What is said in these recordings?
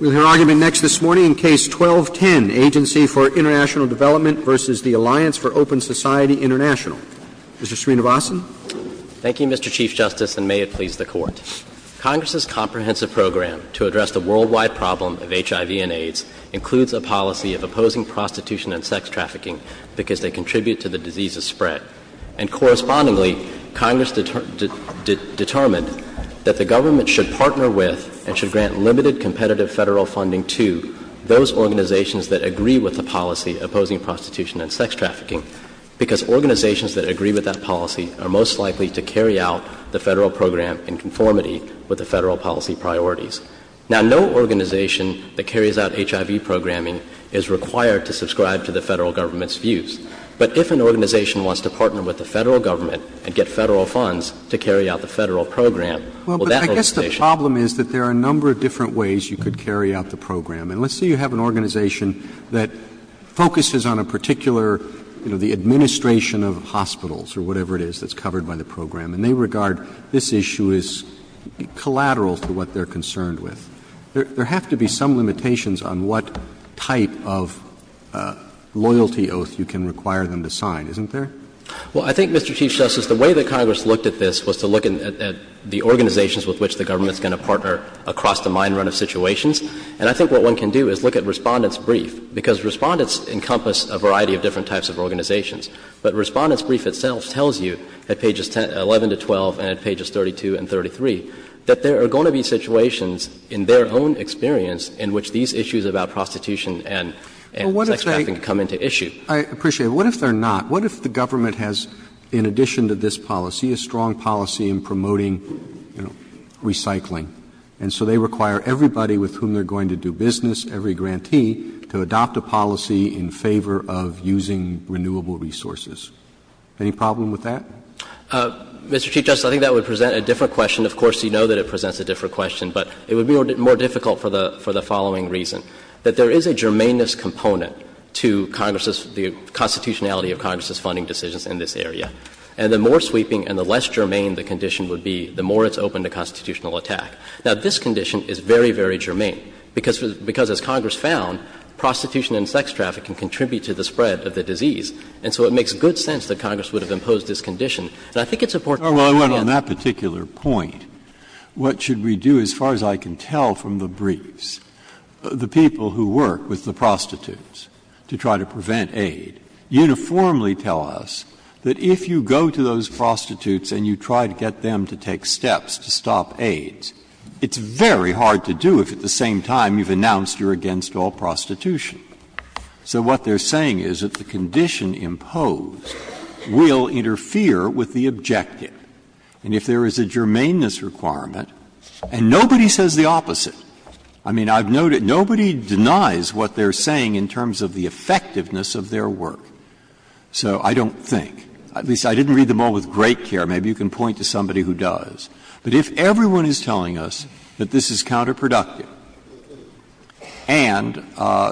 Mr. Srinivasan. Thank you, Mr. Chief Justice, and may it please the Court. Congress's comprehensive program to address the worldwide problem of HIV and AIDS includes a policy of opposing prostitution and sex trafficking because they contribute to the disease's spread. And correspondingly, Congress determined that the government should partner with the and AIDS. competitive Federal funding to those organizations that agree with the policy opposing prostitution and sex trafficking, because organizations that agree with that policy are most likely to carry out the Federal program in conformity with the Federal policy priorities. Now, no organization that carries out HIV programming is required to subscribe to the Federal Government's views. But if an organization wants to partner with the Federal Government and get Federal funds to carry out the Federal program, well, that organization The problem is that there are a number of different ways you could carry out the program. And let's say you have an organization that focuses on a particular you know, the administration of hospitals or whatever it is that's covered by the program, and they regard this issue as collateral to what they're concerned with. There have to be some limitations on what type of loyalty oath you can require them to sign, isn't there? Well, I think, Mr. Chief Justice, the way that Congress looked at this was to look at the organizations with which the government is going to partner across the mind run of situations. And I think what one can do is look at Respondent's brief, because Respondent's encompass a variety of different types of organizations. But Respondent's brief itself tells you at pages 11 to 12 and at pages 32 and 33 that there are going to be situations in their own experience in which these issues about prostitution and sex trafficking come into issue. Roberts. I appreciate it. What if they're not? What if the government has, in addition to this policy, a strong policy in promoting, you know, recycling? And so they require everybody with whom they're going to do business, every grantee, to adopt a policy in favor of using renewable resources. Any problem with that? Mr. Chief Justice, I think that would present a different question. Of course, you know that it presents a different question, but it would be more difficult for the following reason. That there is a germaneness component to Congress's, the constitutionality of Congress's funding decisions in this area. And the more sweeping and the less germane the condition would be, the more it's open to constitutional attack. Now, this condition is very, very germane, because as Congress found, prostitution and sex traffic can contribute to the spread of the disease. And so it makes good sense that Congress would have imposed this condition. And I think it's important to understand that. Breyer, on that particular point, what should we do, as far as I can tell from the briefs? The people who work with the prostitutes to try to prevent aid. Uniformly tell us that if you go to those prostitutes and you try to get them to take steps to stop AIDS, it's very hard to do if at the same time you've announced you're against all prostitution. So what they're saying is that the condition imposed will interfere with the objective. And if there is a germaneness requirement, and nobody says the opposite. I mean, I've noted nobody denies what they're saying in terms of the effectiveness of their work. So I don't think, at least I didn't read them all with great care. Maybe you can point to somebody who does. But if everyone is telling us that this is counterproductive, and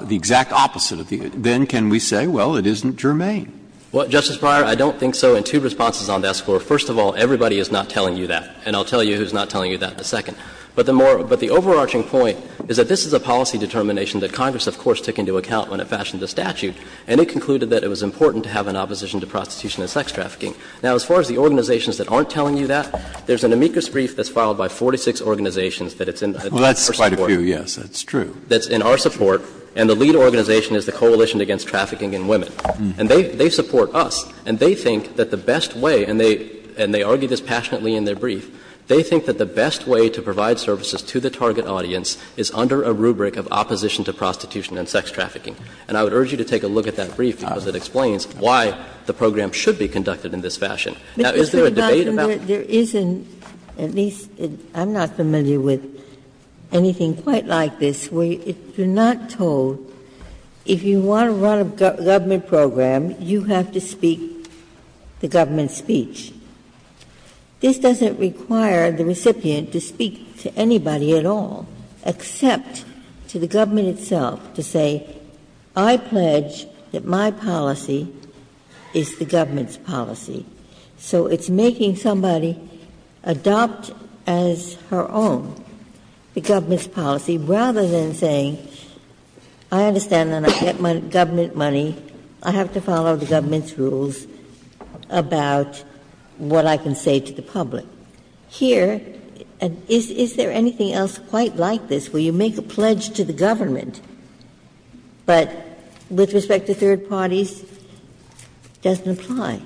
the exact opposite of the other, then can we say, well, it isn't germane? Well, Justice Breyer, I don't think so in two responses on that floor. First of all, everybody is not telling you that, and I'll tell you who's not telling you that in a second. But the overarching point is that this is a policy determination that Congress, of course, took into account when it fashioned the statute. And it concluded that it was important to have an opposition to prostitution and sex trafficking. Now, as far as the organizations that aren't telling you that, there's an amicus brief that's filed by 46 organizations that it's in our support. Breyer, that's quite a few, yes, that's true. That's in our support. And the lead organization is the Coalition Against Trafficking in Women. And they support us. And they think that the best way, and they argue this passionately in their brief, they think that the best way to provide services to the target audience is under a rubric of opposition to prostitution and sex trafficking. And I would urge you to take a look at that brief, because it explains why the program should be conducted in this fashion. Now, is there a debate about that? Ginsburg, there isn't, at least, I'm not familiar with anything quite like this, where you're not told if you want to run a government program, you have to speak the government's speech. This doesn't require the recipient to speak to anybody at all, except to the government itself to say, I pledge that my policy is the government's policy. So it's making somebody adopt as her own the government's policy, rather than saying, I understand that I get my government money, I have to follow the government's policy about what I can say to the public. Here, is there anything else quite like this, where you make a pledge to the government, but with respect to third parties, it doesn't apply?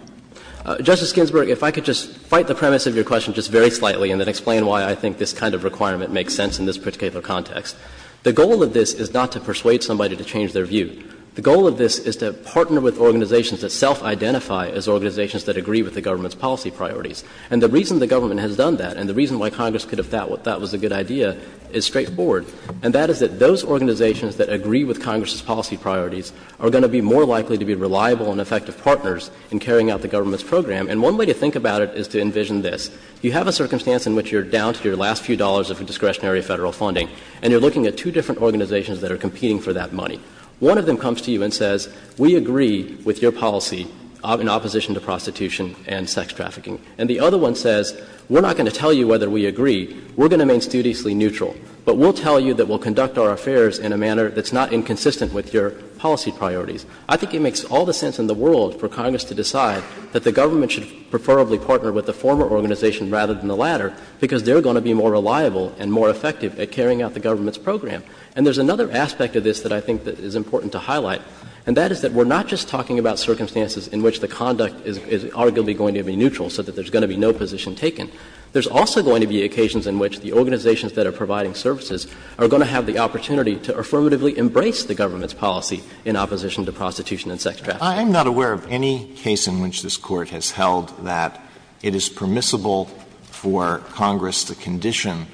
Justice Ginsburg, if I could just fight the premise of your question just very slightly and then explain why I think this kind of requirement makes sense in this particular context. The goal of this is not to persuade somebody to change their view. The goal of this is to partner with organizations that self-identify as organizations that agree with the government's policy priorities. And the reason the government has done that, and the reason why Congress could have thought that was a good idea, is straightforward. And that is that those organizations that agree with Congress's policy priorities are going to be more likely to be reliable and effective partners in carrying out the government's program. And one way to think about it is to envision this. You have a circumstance in which you're down to your last few dollars of discretionary Federal funding, and you're looking at two different organizations that are competing for that money. One of them comes to you and says, we agree with your policy in opposition to prostitution and sex trafficking. And the other one says, we're not going to tell you whether we agree. We're going to remain studiously neutral. But we'll tell you that we'll conduct our affairs in a manner that's not inconsistent with your policy priorities. I think it makes all the sense in the world for Congress to decide that the government should preferably partner with the former organization rather than the latter, because they're going to be more reliable and more effective at carrying out the government's program. And there's another aspect of this that I think is important to highlight, and that is that we're not just talking about circumstances in which the conduct is arguably going to be neutral, so that there's going to be no position taken. There's also going to be occasions in which the organizations that are providing services are going to have the opportunity to affirmatively embrace the government's policy in opposition to prostitution and sex trafficking. Alito I'm not aware of any case in which this Court has held that it is permissible for Congress to condition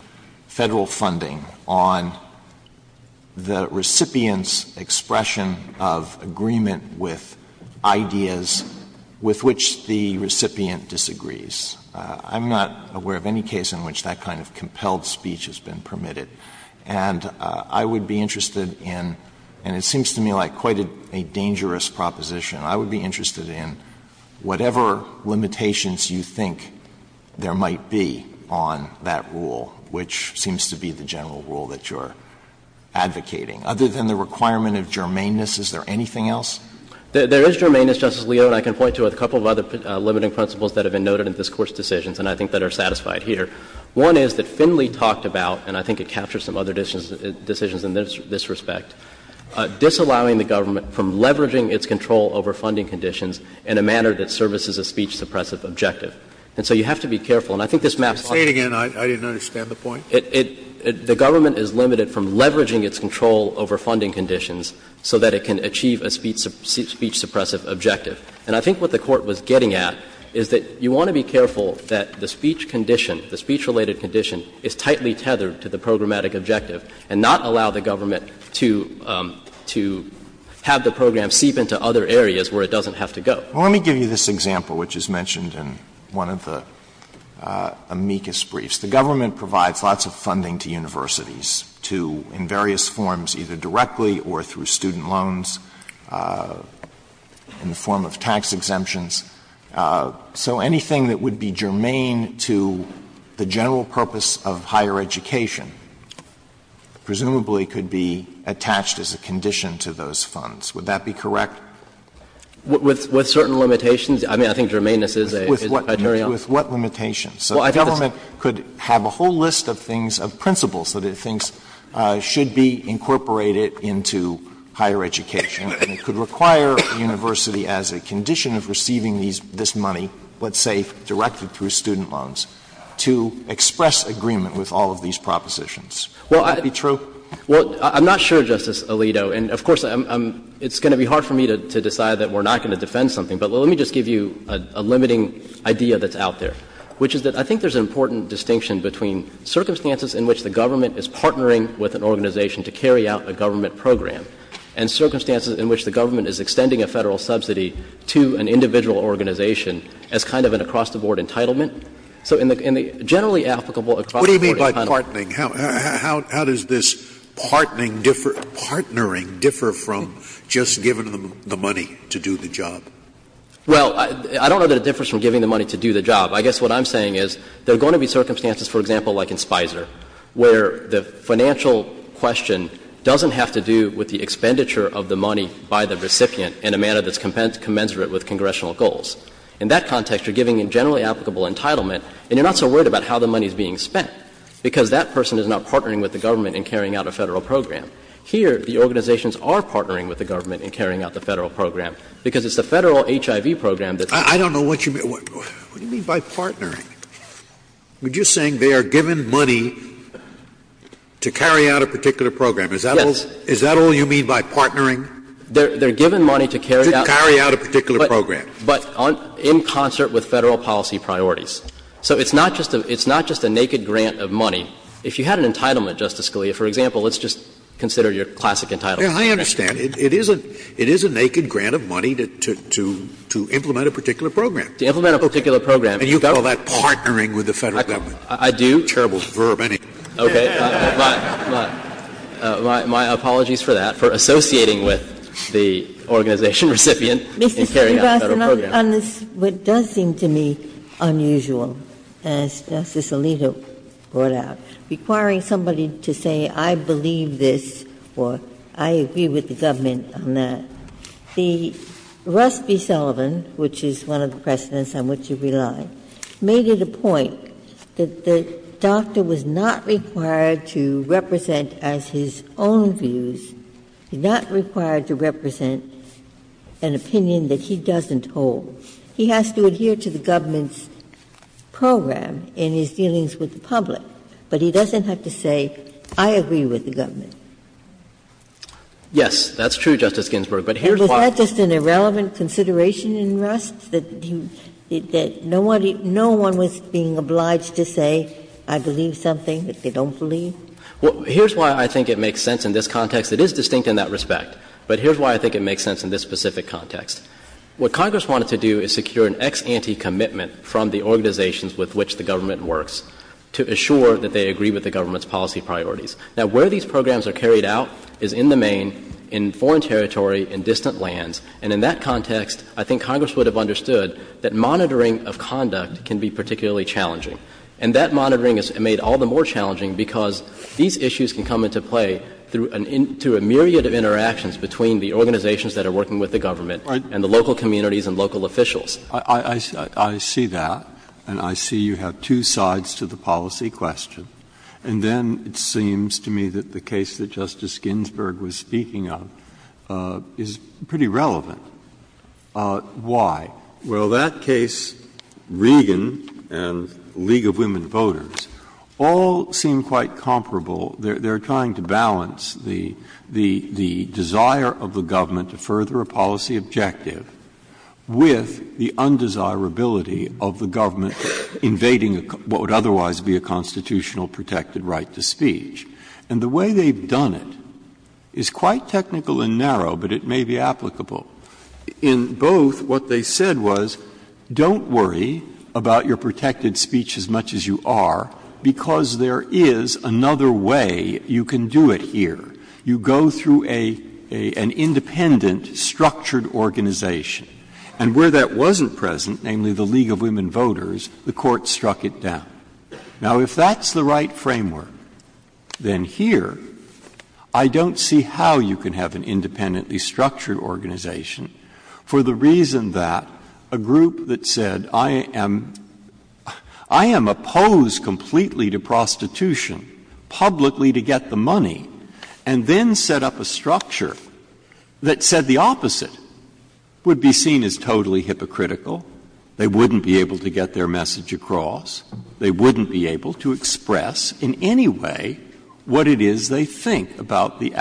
Federal funding on the recipient's expression of agreement with ideas with which the recipient disagrees. I'm not aware of any case in which that kind of compelled speech has been permitted. And I would be interested in, and it seems to me like quite a dangerous proposition, I would be interested in whatever limitations you think there might be on that rule, which seems to be the general rule that you're advocating. Other than the requirement of germaneness, is there anything else? There is germaneness, Justice Alito, and I can point to a couple of other limiting principles that have been noted in this Court's decisions and I think that are satisfied here. One is that Finley talked about, and I think it captures some other decisions in this respect, disallowing the government from leveraging its control over funding conditions in a manner that services a speech-suppressive objective. And so you have to be careful, and I think this maps out. Scalia I'll say it again, I didn't understand the point. The government is limited from leveraging its control over funding conditions so that it can achieve a speech-suppressive objective. And I think what the Court was getting at is that you want to be careful that the speech condition, the speech-related condition is tightly tethered to the programmatic objective and not allow the government to have the program seep into other areas where it doesn't have to go. Alito, let me give you this example, which is mentioned in one of the amicus briefs. The government provides lots of funding to universities to, in various forms, either directly or through student loans, in the form of tax exemptions. So anything that would be germane to the general purpose of higher education presumably could be attached as a condition to those funds. Would that be correct? With certain limitations. I mean, I think germaneness is a criterion. With what limitations? So the government could have a whole list of things, of principles that it thinks should be incorporated into higher education, and it could require a university as a condition of receiving this money, let's say directly through student loans, to express agreement with all of these propositions. Would that be true? Well, I'm not sure, Justice Alito. And of course, it's going to be hard for me to decide that we're not going to defend something. But let me just give you a limiting idea that's out there, which is that I think there's an important distinction between circumstances in which the government is partnering with an organization to carry out a government program and circumstances in which the government is extending a Federal subsidy to an individual organization as kind of an across-the-board entitlement. So in the generally applicable across-the-board entitlement. Scalia, what do you mean by partnering? How does this partnering differ from just giving them the money to do the job? Well, I don't know that it differs from giving the money to do the job. I guess what I'm saying is there are going to be circumstances, for example, like in Spicer, where the financial question doesn't have to do with the expenditure of the money by the recipient in a manner that's commensurate with congressional goals. In that context, you're giving a generally applicable entitlement, and you're not so worried about how the money is being spent, because that person is not partnering with the government in carrying out a Federal program. Here, the organizations are partnering with the government in carrying out the Federal program, because it's the Federal HIV program that's going to be used. I don't know what you mean. What do you mean by partnering? You're just saying they are given money to carry out a particular program. Yes. Is that all you mean by partnering? They're given money to carry out a particular program. But in concert with Federal policy priorities. So it's not just a naked grant of money. If you had an entitlement, Justice Scalia, for example, let's just consider your classic entitlement. I understand. It is a naked grant of money to implement a particular program. To implement a particular program. And you call that partnering with the Federal government. I do. Terrible verb, anyway. Okay. My apologies for that, for associating with the organization recipient in carrying out a Federal program. Mr. Cervantes, on this, what does seem to me unusual, as Justice Alito brought out, requiring somebody to say, I believe this, or I agree with the government on that, the Rusby-Sullivan, which is one of the precedents on which you rely, made it a point that the doctor was not required to represent as his own views, not required to represent an opinion that he doesn't hold. He has to adhere to the government's program in his dealings with the public. But he doesn't have to say, I agree with the government. Yes, that's true, Justice Ginsburg, but here's why. And was that just an irrelevant consideration in Rust, that no one was being obliged to say, I believe something that they don't believe? Here's why I think it makes sense in this context. It is distinct in that respect, but here's why I think it makes sense in this specific context. What Congress wanted to do is secure an ex ante commitment from the organizations with which the government works to assure that they agree with the government's policy priorities. Now, where these programs are carried out is in the main, in foreign territory, in distant lands. And in that context, I think Congress would have understood that monitoring of conduct can be particularly challenging. And that monitoring is made all the more challenging because these issues can come into play through a myriad of interactions between the organizations that are working with the government and the local communities and local officials. Breyer, I see that, and I see you have two sides to the policy question. And then it seems to me that the case that Justice Ginsburg was speaking of is pretty relevant. Why? Well, that case, Regan and League of Women Voters, all seem quite comparable. They are trying to balance the desire of the government to further a policy objective with the undesirability of the government invading what would otherwise be a constitutional protected right to speech. And the way they have done it is quite technical and narrow, but it may be applicable. In both, what they said was, don't worry about your protected speech as much as you are because there is another way you can do it here. You go through an independent, structured organization. And where that wasn't present, namely the League of Women Voters, the Court struck it down. Now, if that's the right framework, then here I don't see how you can have an independently structured organization for the reason that a group that said, I am opposed completely to prostitution publicly to get the money, and then set up a structure that said the opposite, would be seen as totally hypocritical, they wouldn't be able to get their message across, they wouldn't be able to express in any way what it is they think about the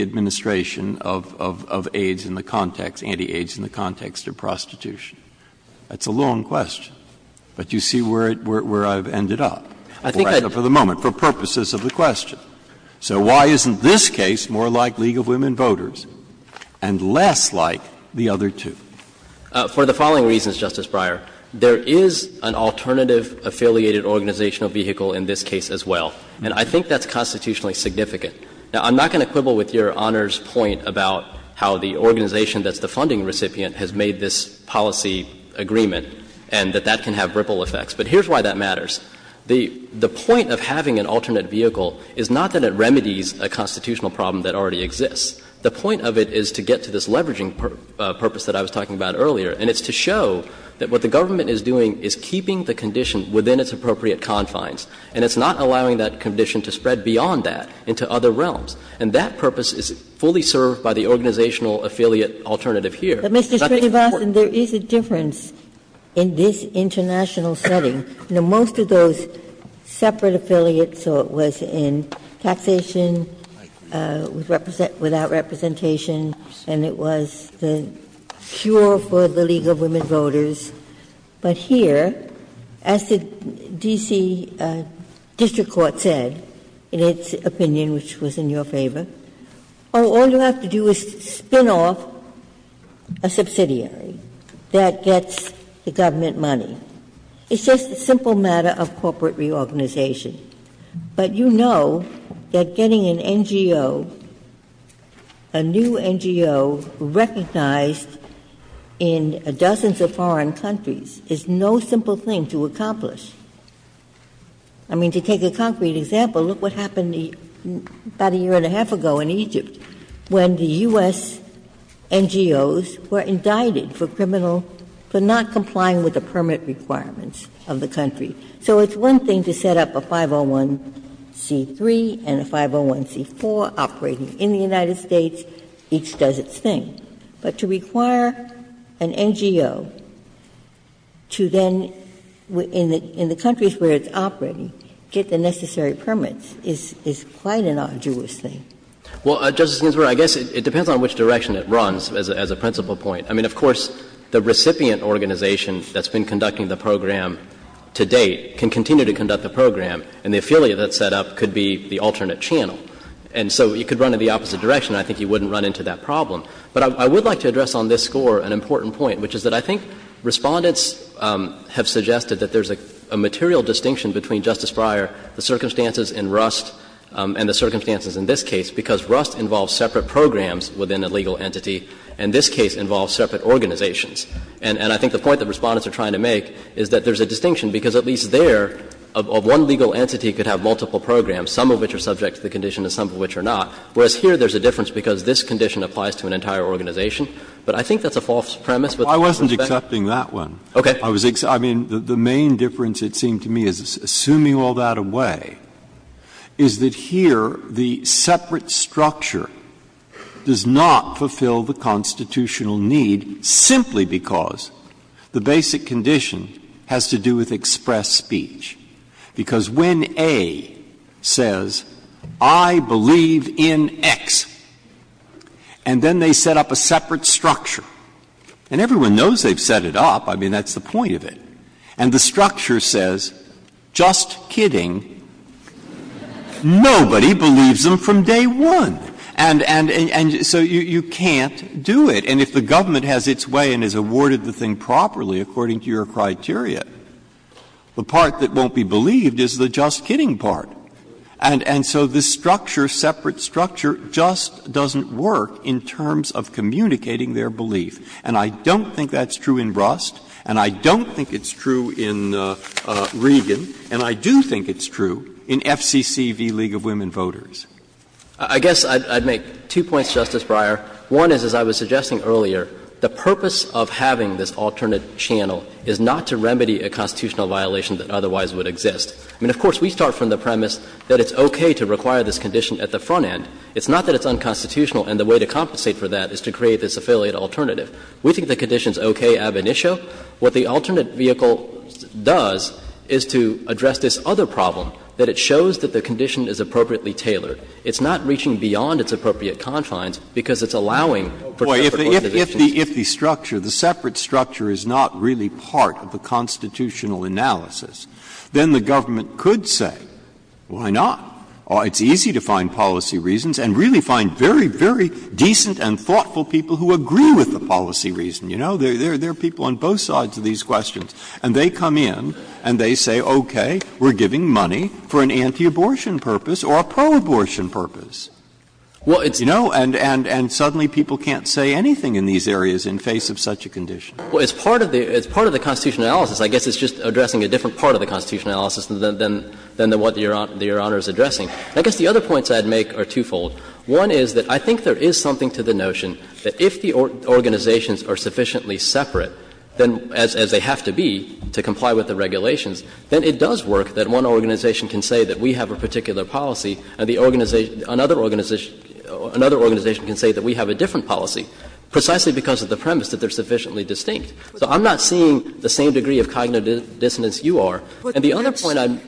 administration of AIDS in the context, anti-AIDS in the context of prostitution. That's a long question, but you see where I've ended up for the moment, for purposes of the question. So why isn't this case more like League of Women Voters and less like the other two? For the following reasons, Justice Breyer. There is an alternative affiliated organizational vehicle in this case as well, and I think that's constitutionally significant. Now, I'm not going to quibble with Your Honor's point about how the organization that's the funding recipient has made this policy agreement and that that can have ripple effects, but here's why that matters. The point of having an alternate vehicle is not that it remedies a constitutional problem that already exists. The point of it is to get to this leveraging purpose that I was talking about earlier, and it's to show that what the government is doing is keeping the condition within its appropriate confines, and it's not allowing that condition to spread beyond that into other realms. And that purpose is fully served by the organizational affiliate alternative And I think it's important. Ginsburg. But, Mr. Srinivasan, there is a difference in this international setting. You know, most of those separate affiliates, so it was in taxation, without representation, and it was the cure for the League of Women Voters, but here, as the D.C. district court said, in its opinion, which was in your favor, oh, all you have to do is spin off a subsidiary that gets the government money. It's just a simple matter of corporate reorganization, but you know that getting an NGO, a new NGO recognized in dozens of foreign countries is no simple thing to accomplish. I mean, to take a concrete example, look what happened about a year and a half ago in Egypt when the U.S. NGOs were indicted for criminal, for not complying with the permit requirements of the country. So it's one thing to set up a 501c3 and a 501c4 operating in the United States. Each does its thing. But to require an NGO to then, in the countries where it's operating, get the necessary permits is quite an arduous thing. Well, Justice Ginsburg, I guess it depends on which direction it runs as a principal point. I mean, of course, the recipient organization that's been conducting the program to date can continue to conduct the program, and the affiliate that's set up could be the alternate channel. And so it could run in the opposite direction. I think you wouldn't run into that problem. But I would like to address on this score an important point, which is that I think Respondents have suggested that there's a material distinction between Justice Breyer, the circumstances in Rust, and the circumstances in this case, because Rust involves separate programs within a legal entity, and this case involves separate organizations. And I think the point that Respondents are trying to make is that there's a distinction, because at least there, one legal entity could have multiple programs, some of which are subject to the condition and some of which are not. Whereas here, there's a difference because this condition applies to an entire organization. But I think that's a false premise with respect to Justice Breyer. Breyer. I wasn't accepting that one. Okay. I was ex—I mean, the main difference, it seemed to me, is, assuming all that away, is that here the separate structure does not fulfill the constitutional need simply because the basic condition has to do with express speech, because when A says, I believe in X, and then they set up a separate structure, and everyone knows they've set it up, I mean, that's the point of it, and the structure says, just kidding, nobody believes them from day one, and so you can't do it, and if the government has its way and has awarded the thing properly according to your criteria, the part that won't be believed is the just kidding part. And so this structure, separate structure, just doesn't work in terms of communicating their belief. And I don't think that's true in Rust, and I don't think it's true in Regan, and I do think it's true in FCC v. League of Women Voters. I guess I'd make two points, Justice Breyer. One is, as I was suggesting earlier, the purpose of having this alternate channel is not to remedy a constitutional violation that otherwise would exist. I mean, of course, we start from the premise that it's okay to require this condition at the front end. It's not that it's unconstitutional and the way to compensate for that is to create this affiliate alternative. We think the condition is okay ab initio. What the alternate vehicle does is to address this other problem, that it shows that the condition is appropriately tailored. It's not reaching beyond its appropriate confines because it's allowing for separate organizations. And if the alternative is not really part of the constitutional analysis, then the government could say, why not? It's easy to find policy reasons and really find very, very decent and thoughtful people who agree with the policy reason. You know, there are people on both sides of these questions. And they come in and they say, okay, we're giving money for an anti-abortion purpose or a pro-abortion purpose. You know, and suddenly people can't say anything in these areas in face of such a condition. Well, as part of the constitutional analysis, I guess it's just addressing a different part of the constitutional analysis than what Your Honor is addressing. I guess the other points I'd make are twofold. One is that I think there is something to the notion that if the organizations are sufficiently separate, as they have to be to comply with the regulations, then it does work that one organization can say that we have a particular policy and another organization can say that we have a different policy, precisely because of the premise that they're sufficiently distinct. So I'm not seeing the same degree of cognitive dissonance you are. And the other point I'd make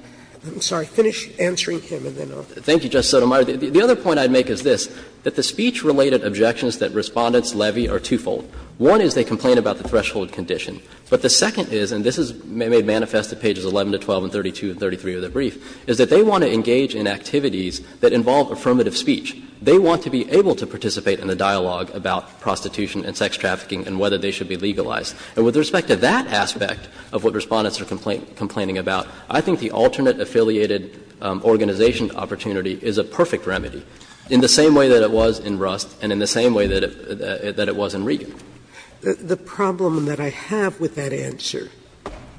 is this, that the speech-related objections that Respondents levy are twofold. One is they complain about the threshold condition. But the second is, and this is made manifest at pages 11 to 12 and 32 and 33 of the brief, is that they want to engage in activities that involve affirmative speech. They want to be able to participate in a dialogue about prostitution and sex trafficking and whether they should be legalized. And with respect to that aspect of what Respondents are complaining about, I think the alternate affiliated organization opportunity is a perfect remedy, in the same way that it was in Rust and in the same way that it was in Regan. Sotomayor, The problem that I have with that answer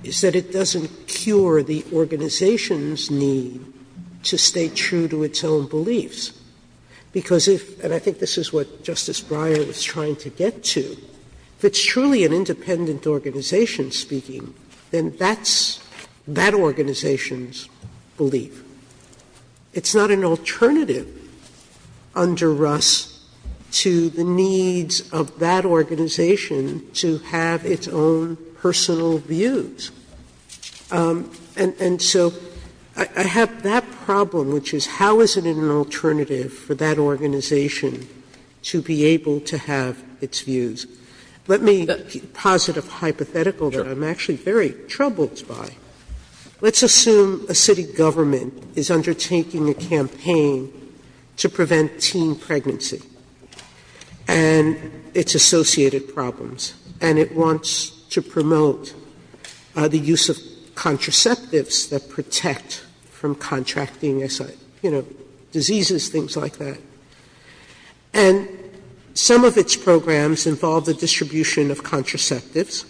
is that it doesn't cure the organization's need to stay true to its own beliefs. Because if, and I think this is what Justice Breyer was trying to get to, if it's truly an independent organization speaking, then that's that organization's belief. It's not an alternative under Rust to the needs of that organization to have its own personal views. And so I have that problem, which is how is it an alternative for that organization to be able to have its views? Let me give a positive hypothetical that I'm actually very troubled by. Let's assume a city government is undertaking a campaign to prevent teen pregnancy and its associated problems, and it wants to promote the use of contraceptives that protect from contracting, you know, diseases, things like that. And some of its programs involve the distribution of contraceptives,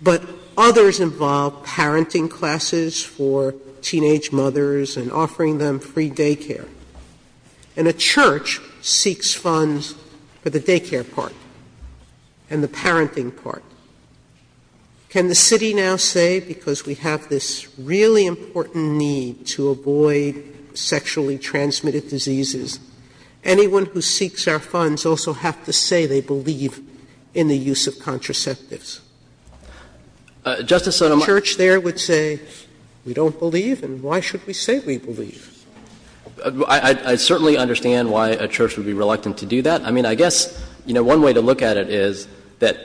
but others involve parenting classes for teenage mothers and offering them free daycare. And a church seeks funds for the daycare part and the parenting part. Can the city now say, because we have this really important need to avoid sexually transmitted diseases, anyone who seeks our funds also have to say they believe in the use of contraceptives? Church there would say, we don't believe, and why should we say we believe? I certainly understand why a church would be reluctant to do that. I mean, I guess, you know, one way to look at it is that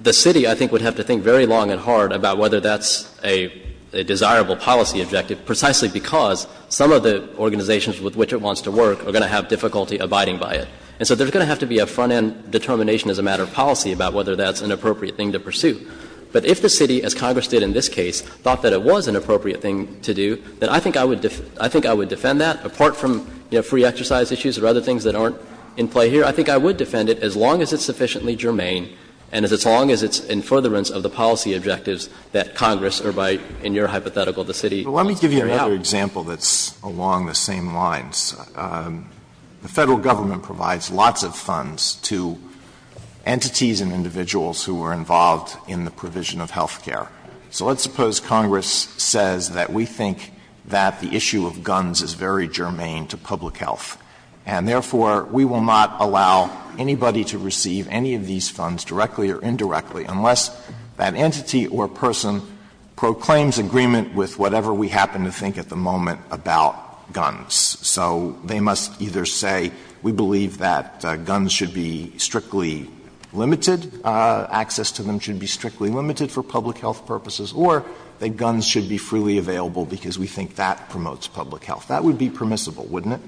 the city, I think, would have to think very long and hard about whether that's a desirable policy objective, precisely because some of the organizations with which it wants to work are going to have difficulty abiding by it. And so there's going to have to be a front-end determination as a matter of policy about whether that's an appropriate thing to pursue. But if the city, as Congress did in this case, thought that it was an appropriate thing to do, then I think I would defend that, apart from, you know, free exercise issues or other things that aren't in play here. I think I would defend it, as long as it's sufficiently germane and as long as it's in furtherance of the policy objectives that Congress or by, in your hypothetical, the city wants to carry out. Alito, but let me give you another example that's along the same lines. The Federal Government provides lots of funds to entities and individuals who are involved in the provision of health care. So let's suppose Congress says that we think that the issue of guns is very germane to public health, and therefore, we will not allow anybody to receive any of these funds directly or indirectly unless that entity or person proclaims agreement with whatever we happen to think at the moment about guns. So they must either say, we believe that guns should be strictly limited, access to them should be strictly limited for public health purposes, or that guns should be freely available because we think that promotes public health. That would be permissible, wouldn't it?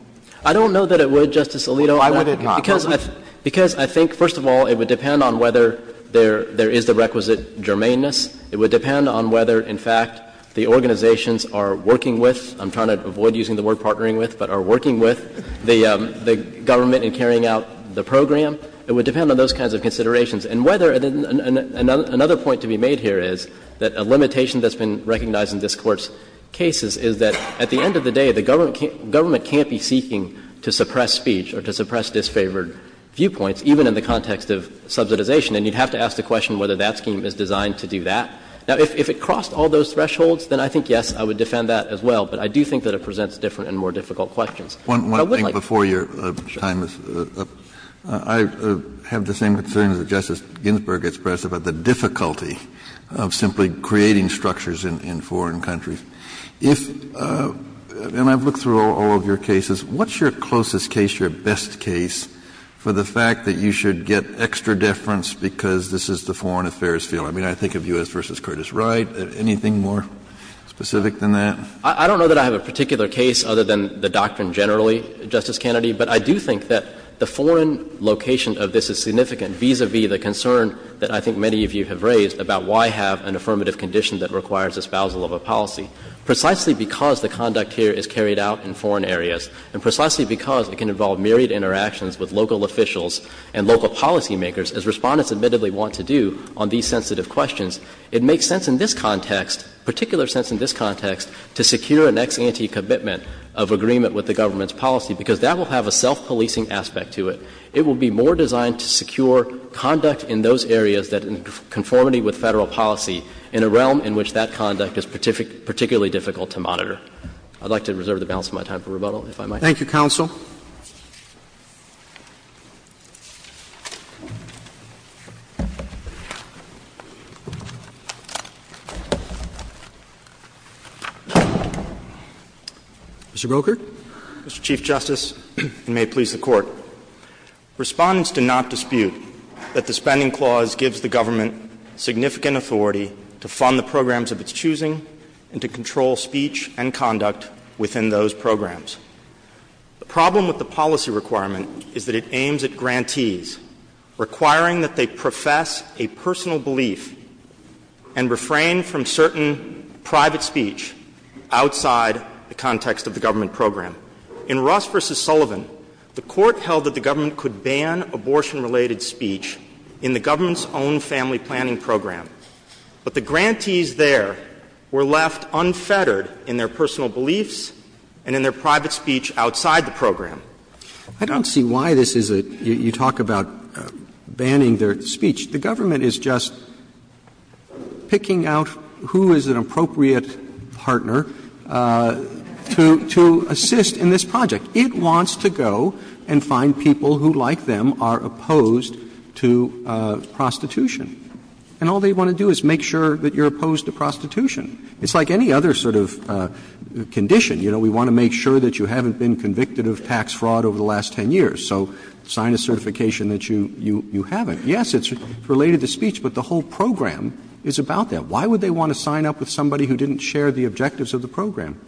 I don't know that it would, Justice Alito. Why would it not? Because I think, first of all, it would depend on whether there is the requisite germaneness. It would depend on whether, in fact, the organizations are working with — I'm trying to avoid using the word partnering with, but are working with — the government in carrying out the program. It would depend on those kinds of considerations. And whether — another point to be made here is that a limitation that's been recognized in this Court's cases is that, at the end of the day, the government can't be seeking to suppress speech or to suppress disfavored viewpoints, even in the context of subsidization. And you'd have to ask the question whether that scheme is designed to do that. Now, if it crossed all those thresholds, then I think, yes, I would defend that as well, but I do think that it presents different and more difficult questions. But I would like to see whether there is the requisite germaneness in that. Kennedy, as Ginsburg expressed, about the difficulty of simply creating structures in foreign countries. If — and I've looked through all of your cases. What's your closest case, your best case, for the fact that you should get extra deference because this is the foreign affairs field? I mean, I think of U.S. v. Curtis Wright. Anything more specific than that? I don't know that I have a particular case other than the doctrine generally, Justice Kennedy. But I do think that the foreign location of this is significant vis-a-vis the concern that I think many of you have raised about why have an affirmative condition that requires espousal of a policy. Precisely because the conduct here is carried out in foreign areas and precisely because it can involve myriad interactions with local officials and local policymakers, as Respondents admittedly want to do on these sensitive questions, it makes sense in this context, particular sense in this context, to secure an ex-ante commitment of agreement with the government's policy, because that will have a self-policing aspect to it. It will be more designed to secure conduct in those areas that, in conformity with Federal policy, in a realm in which that conduct is particularly difficult to monitor. I'd like to reserve the balance of my time for rebuttal, if I might. Thank you, counsel. Mr. Broker. Mr. Chief Justice, and may it please the Court. Respondents do not dispute that the Spending Clause gives the government significant authority to fund the programs of its choosing and to control speech and conduct within those programs. The problem with the policy requirement is that it aims at grantees, requiring that they profess a personal belief and refrain from certain private speech outside the context of the government program. In Ross v. Sullivan, the Court held that the government could ban abortion-related speech in the government's own family planning program, but the grantees there were left unfettered in their personal beliefs and in their private speech outside the program. I don't see why this is a you talk about banning their speech. The government is just picking out who is an appropriate partner to assist in this project. It wants to go and find people who, like them, are opposed to prostitution. And all they want to do is make sure that you're opposed to prostitution. It's like any other sort of condition. You know, we want to make sure that you haven't been convicted of tax fraud over the last 10 years. So sign a certification that you haven't. Yes, it's related to speech, but the whole program is about that. Why would they want to sign up with somebody who didn't share the objectives of the program?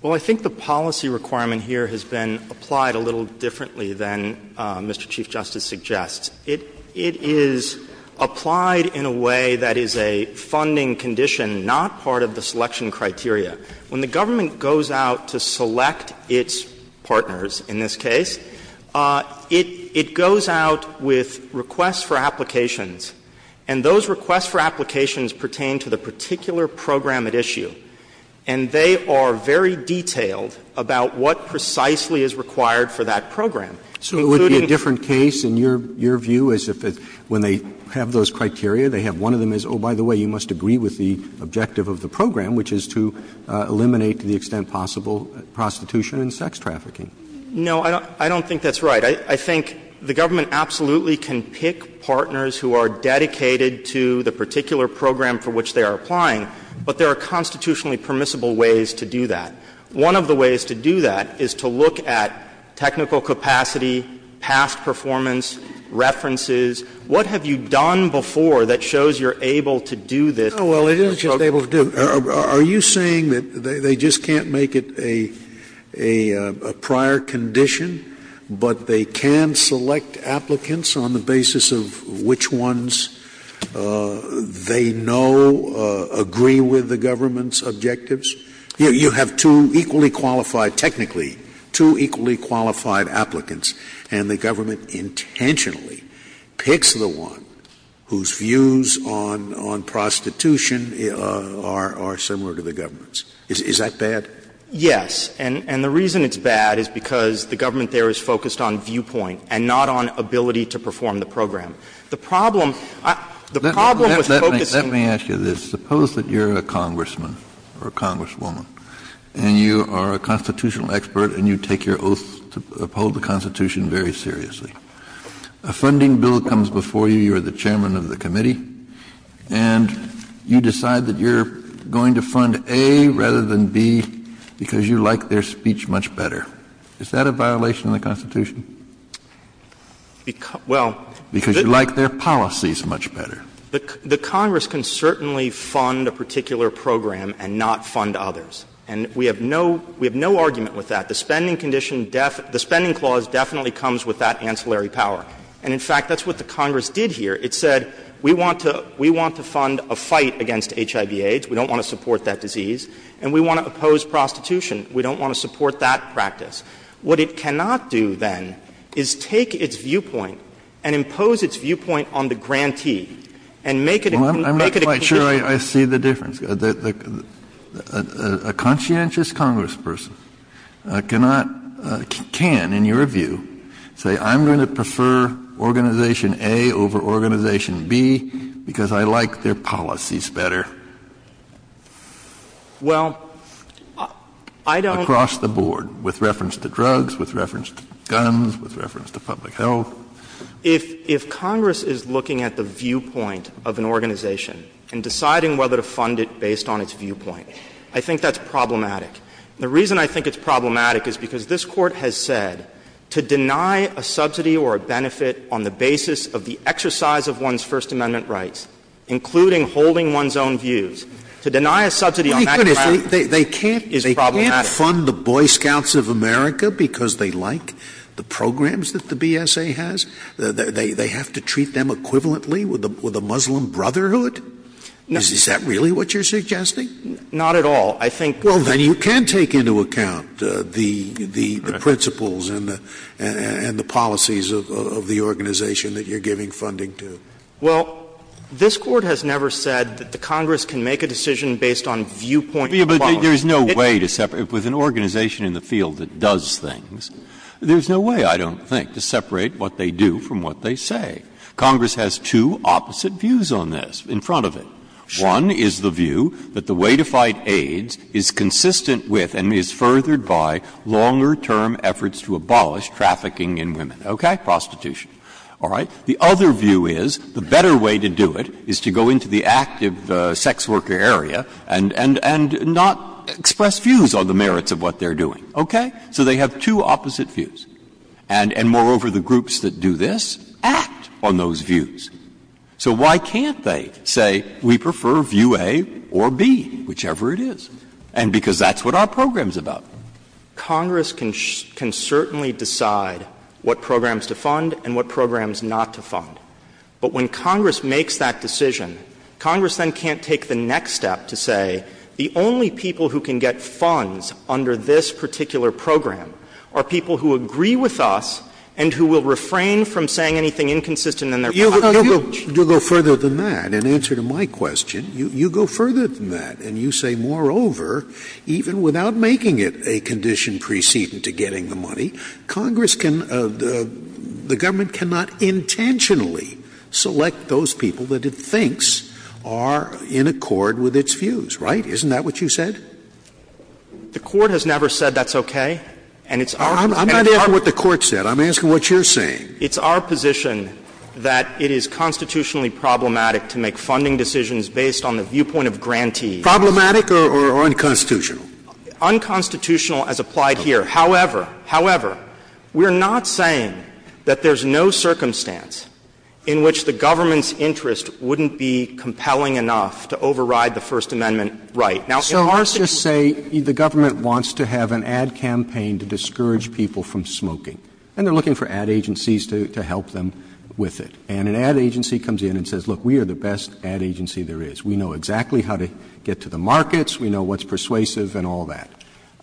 Well, I think the policy requirement here has been applied a little differently than Mr. Chief Justice suggests. It is applied in a way that is a funding condition, not part of the selection criteria. When the government goes out to select its partners in this case, it goes out with requests for applications, and those requests for applications pertain to the particular program at issue. And they are very detailed about what precisely is required for that program. So it would be a different case, in your view, as if when they have those criteria, they have one of them as, oh, by the way, you must agree with the objective of the program, which is to eliminate to the extent possible prostitution and sex trafficking. No, I don't think that's right. I think the government absolutely can pick partners who are dedicated to the particular program for which they are applying, but there are constitutionally permissible ways to do that. One of the ways to do that is to look at technical capacity, past performance, references. What have you done before that shows you're able to do this? Scalia. Well, it isn't just able to do. Are you saying that they just can't make it a prior condition, but they can select applicants on the basis of which ones they know agree with the government's objectives? You have two equally qualified, technically, two equally qualified applicants, and the government intentionally picks the one whose views on prostitution are similar to the government's. Is that bad? Yes. And the reason it's bad is because the government there is focused on viewpoint and not on ability to perform the program. The problem was focusing on the viewpoint. Kennedy, you are a constitutional expert, and you take your oath to uphold the Constitution very seriously. A funding bill comes before you. You are the chairman of the committee. And you decide that you're going to fund A rather than B because you like their speech much better. Is that a violation of the Constitution? Because you like their policies much better. The Congress can certainly fund a particular program and not fund others. And we have no argument with that. The spending condition, the spending clause definitely comes with that ancillary power. And, in fact, that's what the Congress did here. It said we want to fund a fight against HIV-AIDS. We don't want to support that disease. And we want to oppose prostitution. We don't want to support that practice. What it cannot do, then, is take its viewpoint and impose its viewpoint on the grantee. And make it a condition. Kennedy, I'm not quite sure I see the difference. A conscientious Congressperson cannot, can, in your view, say I'm going to prefer Organization A over Organization B because I like their policies better? Well, I don't. Across the board, with reference to drugs, with reference to guns, with reference to public health. If Congress is looking at the viewpoint of an organization and deciding whether to fund it based on its viewpoint, I think that's problematic. The reason I think it's problematic is because this Court has said to deny a subsidy or a benefit on the basis of the exercise of one's First Amendment rights, including holding one's own views, to deny a subsidy on that ground is problematic. You can't fund the Boy Scouts of America because they like the programs that the BSA has? They have to treat them equivalently with a Muslim brotherhood? Is that really what you're suggesting? Not at all. I think. Well, then you can take into account the principles and the policies of the organization that you're giving funding to. Well, this Court has never said that the Congress can make a decision based on viewpoint policy. But there's no way to separate it. With an organization in the field that does things, there's no way, I don't think, to separate what they do from what they say. Congress has two opposite views on this in front of it. One is the view that the way to fight AIDS is consistent with and is furthered by longer-term efforts to abolish trafficking in women. Okay? Prostitution. All right? The other view is the better way to do it is to go into the active sex worker area and not express views on the merits of what they're doing. Okay? So they have two opposite views. And moreover, the groups that do this act on those views. So why can't they say we prefer view A or B, whichever it is? And because that's what our program is about. Congress can certainly decide what programs to fund and what programs not to fund. But when Congress makes that decision, Congress then can't take the next step to say the only people who can get funds under this particular program are people who agree with us and who will refrain from saying anything inconsistent in their package. Scalia. You go further than that. In answer to my question, you go further than that and you say, moreover, even without making it a condition preceding to getting the money, Congress can — the government cannot intentionally select those people that it thinks are in accord with its views. Right? Isn't that what you said? The Court has never said that's okay. And it's our — I'm not asking what the Court said. I'm asking what you're saying. It's our position that it is constitutionally problematic to make funding decisions based on the viewpoint of grantees. Problematic or unconstitutional? Unconstitutional as applied here. However, however, we're not saying that there's no circumstance in which the government's interest wouldn't be compelling enough to override the First Amendment right. Now, in our situation— Roberts, so let's just say the government wants to have an ad campaign to discourage people from smoking, and they're looking for ad agencies to help them with it. And an ad agency comes in and says, look, we are the best ad agency there is. We know exactly how to get to the markets. We know what's persuasive and all that.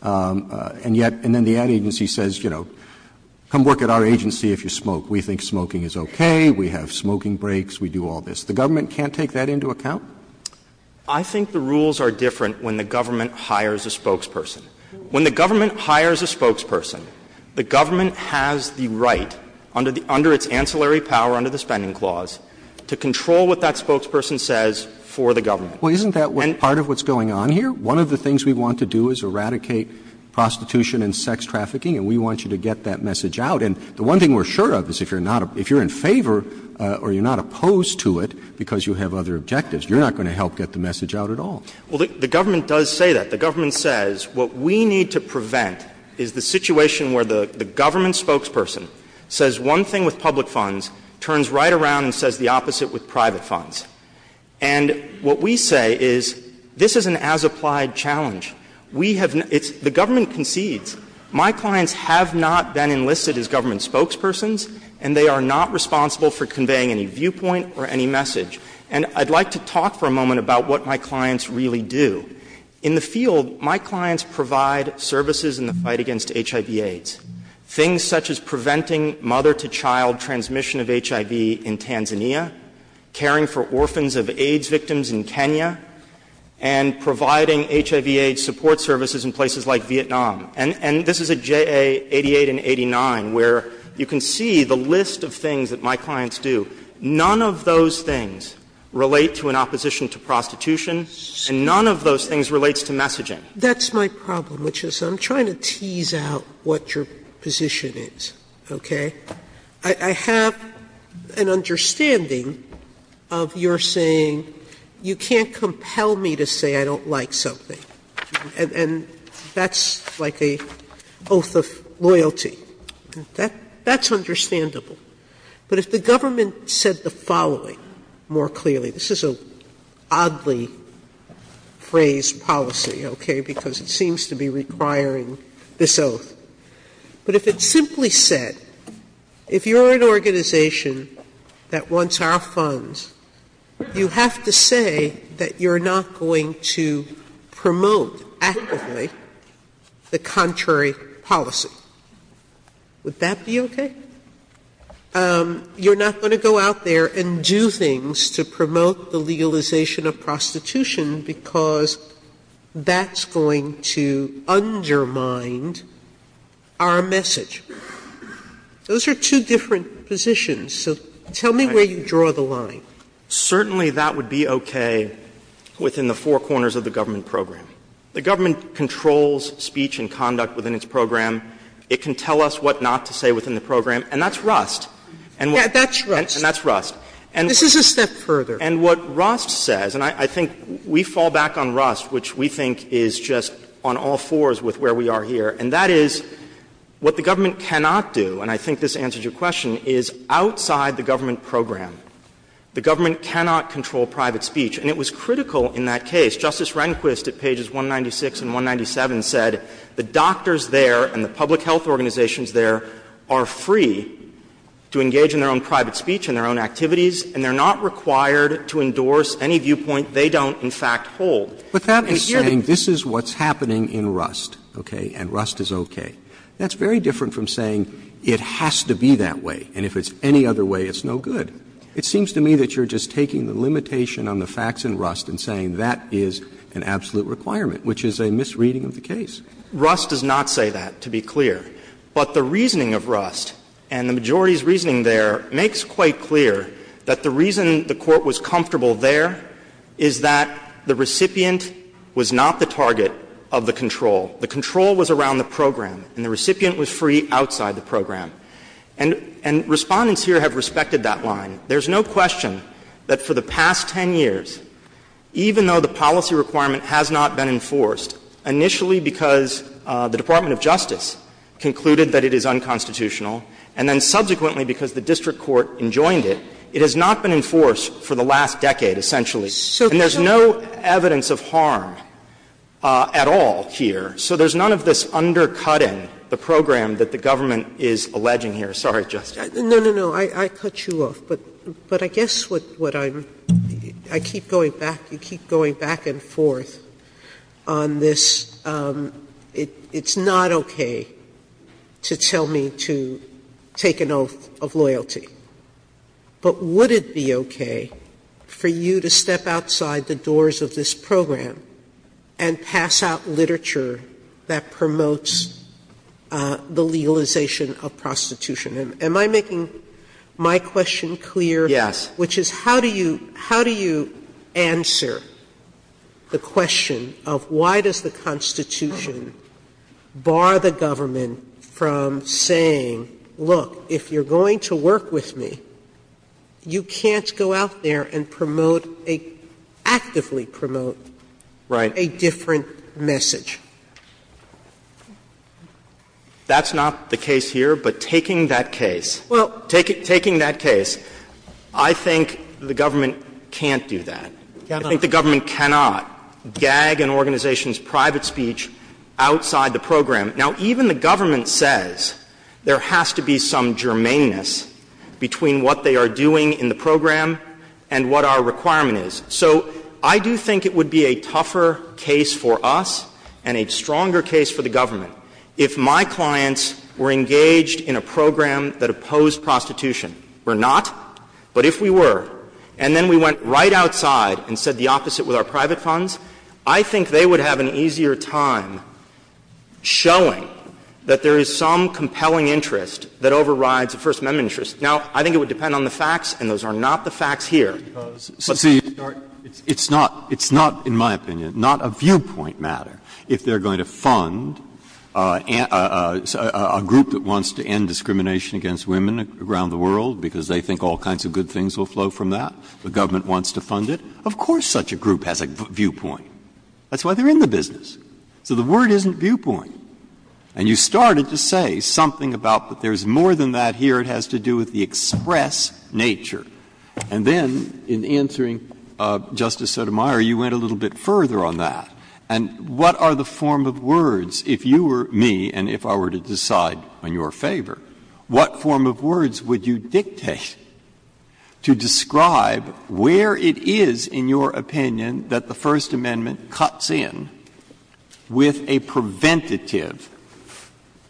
And yet — and then the ad agency says, you know, come work at our agency if you smoke. We think smoking is okay. We have smoking breaks. We do all this. The government can't take that into account? I think the rules are different when the government hires a spokesperson. When the government hires a spokesperson, the government has the right, under the — under its ancillary power under the Spending Clause, to control what that spokesperson says for the government. Well, isn't that part of what's going on here? One of the things we want to do is eradicate prostitution and sex trafficking, and we want you to get that message out. And the one thing we're sure of is if you're not — if you're in favor or you're not opposed to it because you have other objectives, you're not going to help get the message out at all. Well, the government does say that. The government says what we need to prevent is the situation where the government spokesperson says one thing with public funds, turns right around and says the opposite with private funds. And what we say is this is an as-applied challenge. We have — it's — the government concedes. My clients have not been enlisted as government spokespersons, and they are not responsible for conveying any viewpoint or any message. And I'd like to talk for a moment about what my clients really do. In the field, my clients provide services in the fight against HIV-AIDS, things such as preventing mother-to-child transmission of HIV in Tanzania, caring for orphans of AIDS victims in Kenya, and providing HIV-AIDS support services in places like Vietnam. And this is at JA88 and 89, where you can see the list of things that my clients do. None of those things relate to an opposition to prostitution, and none of those things relates to messaging. Sotomayor, that's my problem, which is I'm trying to tease out what your position is, okay? I have an understanding of your saying, you can't compel me to say I don't like something, and that's like an oath of loyalty. That's understandable. But if the government said the following more clearly — this is an oddly phrased policy, okay, because it seems to be requiring this oath — but if it simply said, if you're an organization that wants our funds, you have to say that you're not going to promote actively the contrary policy. Would that be okay? You're not going to go out there and do things to promote the legalization of prostitution because that's going to undermine our message. Those are two different positions, so tell me where you draw the line. Certainly, that would be okay within the four corners of the government program. The government controls speech and conduct within its program. It can tell us what not to say within the program, and that's Rust. And that's Rust. And that's Rust. And this is a step further. And what Rust says, and I think we fall back on Rust, which we think is just on all fours with where we are here, and that is what the government cannot do, and I think this answers your question, is outside the government program, the government cannot control private speech. And it was critical in that case. Justice Rehnquist at pages 196 and 197 said the doctors there and the public health organizations there are free to engage in their own private speech and their own activities, and they're not required to endorse any viewpoint they don't, in fact, hold. And here the— Roberts. But that is saying this is what's happening in Rust, okay, and Rust is okay. That's very different from saying it has to be that way, and if it's any other way, it's no good. It seems to me that you're just taking the limitation on the facts in Rust and saying that is an absolute requirement, which is a misreading of the case. Rust does not say that, to be clear. But the reasoning of Rust, and the majority's reasoning there, makes quite clear that the reason the Court was comfortable there is that the recipient was not the target of the control. The control was around the program. And the recipient was free outside the program. And Respondents here have respected that line. There's no question that for the past 10 years, even though the policy requirement has not been enforced, initially because the Department of Justice concluded that it is unconstitutional, and then subsequently because the district court enjoined it, it has not been enforced for the last decade, essentially. And there's no evidence of harm at all here. So there's none of this undercutting the program that the Government is alleging here. Sotomayor-Girourds, Jr. No, no, no. I cut you off. But I guess what I'm – I keep going back – you keep going back and forth on this – it's not okay to tell me to take an oath of loyalty. But would it be okay for you to step outside the doors of this program and pass out the literature that promotes the legalization of prostitution? Am I making my question clear? Yes. Which is, how do you – how do you answer the question of why does the Constitution bar the Government from saying, look, if you're going to work with me, you can't go out there and promote a – actively promote a different message? That's not the case here, but taking that case, taking that case, I think the Government can't do that. I think the Government cannot gag an organization's private speech outside the program. Now, even the Government says there has to be some germaneness between what they are doing in the program and what our requirement is. So I do think it would be a tougher case for us and a stronger case for the Government if my clients were engaged in a program that opposed prostitution. We're not, but if we were, and then we went right outside and said the opposite with our private funds, I think they would have an easier time showing that there is some compelling interest that overrides the First Amendment interest. Now, I think it would depend on the facts, and those are not the facts here. Breyer. See, it's not – it's not, in my opinion, not a viewpoint matter if they are going to fund a group that wants to end discrimination against women around the world because they think all kinds of good things will flow from that. The Government wants to fund it. Of course such a group has a viewpoint. That's why they are in the business. So the word isn't viewpoint. And you started to say something about that there is more than that here. It has to do with the express nature. And then in answering Justice Sotomayor, you went a little bit further on that. And what are the form of words, if you were me and if I were to decide on your favor, what form of words would you dictate to describe where it is in your opinion that the First Amendment cuts in with a preventative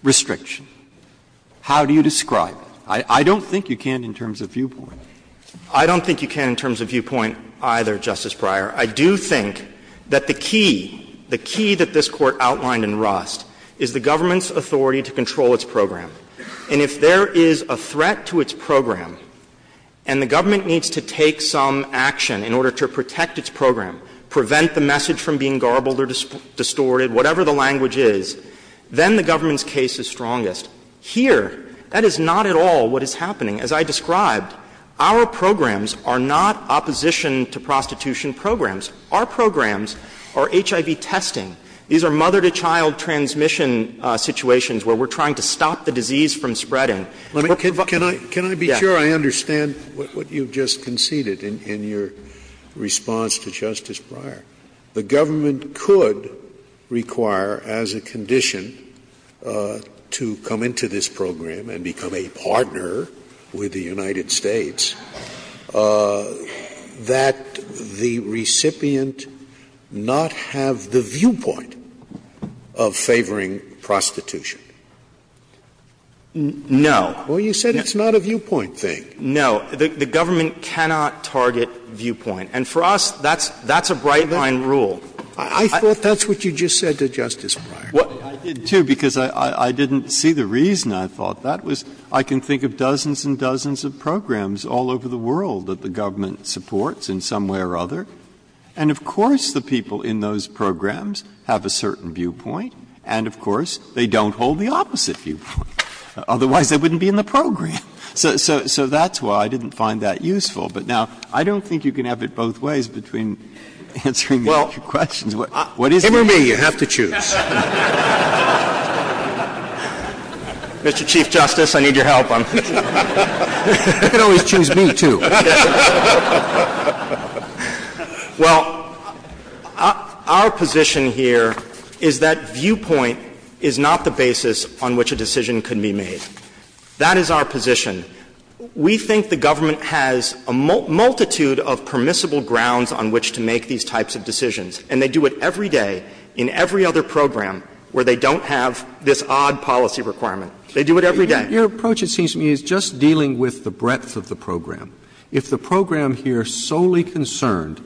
restriction? How do you describe it? I don't think you can in terms of viewpoint. I don't think you can in terms of viewpoint either, Justice Breyer. I do think that the key, the key that this Court outlined in Rust is the Government's authority to control its program. And if there is a threat to its program and the Government needs to take some action in order to protect its program, prevent the message from being garbled or distorted, whatever the language is, then the Government's case is strongest. Here, that is not at all what is happening. As I described, our programs are not opposition to prostitution programs. Our programs are HIV testing. These are mother-to-child transmission situations where we are trying to stop the disease from spreading. Scalia. Can I be sure I understand what you just conceded in your response to Justice Breyer? The Government could require as a condition to come into this program and become a partner with the United States that the recipient not have the viewpoint of favoring prostitution. No. Well, you said it's not a viewpoint thing. No. The Government cannot target viewpoint. And for us, that's a bright-line rule. I thought that's what you just said to Justice Breyer. Well, I did, too, because I didn't see the reason I thought that was. I can think of dozens and dozens of programs all over the world that the Government supports in some way or other. And of course the people in those programs have a certain viewpoint and, of course, they don't hold the opposite viewpoint. Otherwise, they wouldn't be in the program. So that's why I didn't find that useful. But now, I don't think you can have it both ways between answering these two questions. What is the answer? Give it to me. You have to choose. Mr. Chief Justice, I need your help. You can always choose me, too. Well, our position here is that viewpoint is not the basis on which a decision can be made. That is our position. We think the Government has a multitude of permissible grounds on which to make these types of decisions. And they do it every day in every other program where they don't have this odd policy requirement. They do it every day. Your approach, it seems to me, is just dealing with the breadth of the program. If the program here solely concerned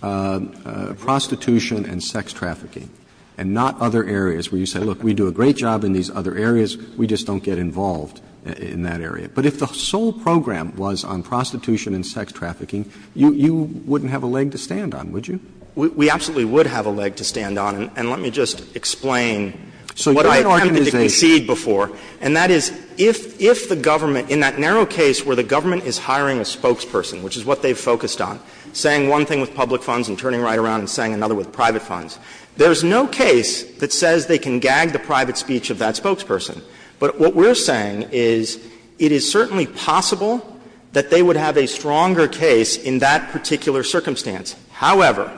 prostitution and sex trafficking and not other areas where you say, look, we do a great job in these other areas, we just don't get involved in that area. But if the sole program was on prostitution and sex trafficking, you wouldn't have a leg to stand on, would you? We absolutely would have a leg to stand on. And let me just explain what I attempted to concede before. And that is, if the Government, in that narrow case where the Government is hiring a spokesperson, which is what they've focused on, saying one thing with public funds and turning right around and saying another with private funds, there's no case that says they can gag the private speech of that spokesperson. But what we're saying is it is certainly possible that they would have a stronger case in that particular circumstance. However,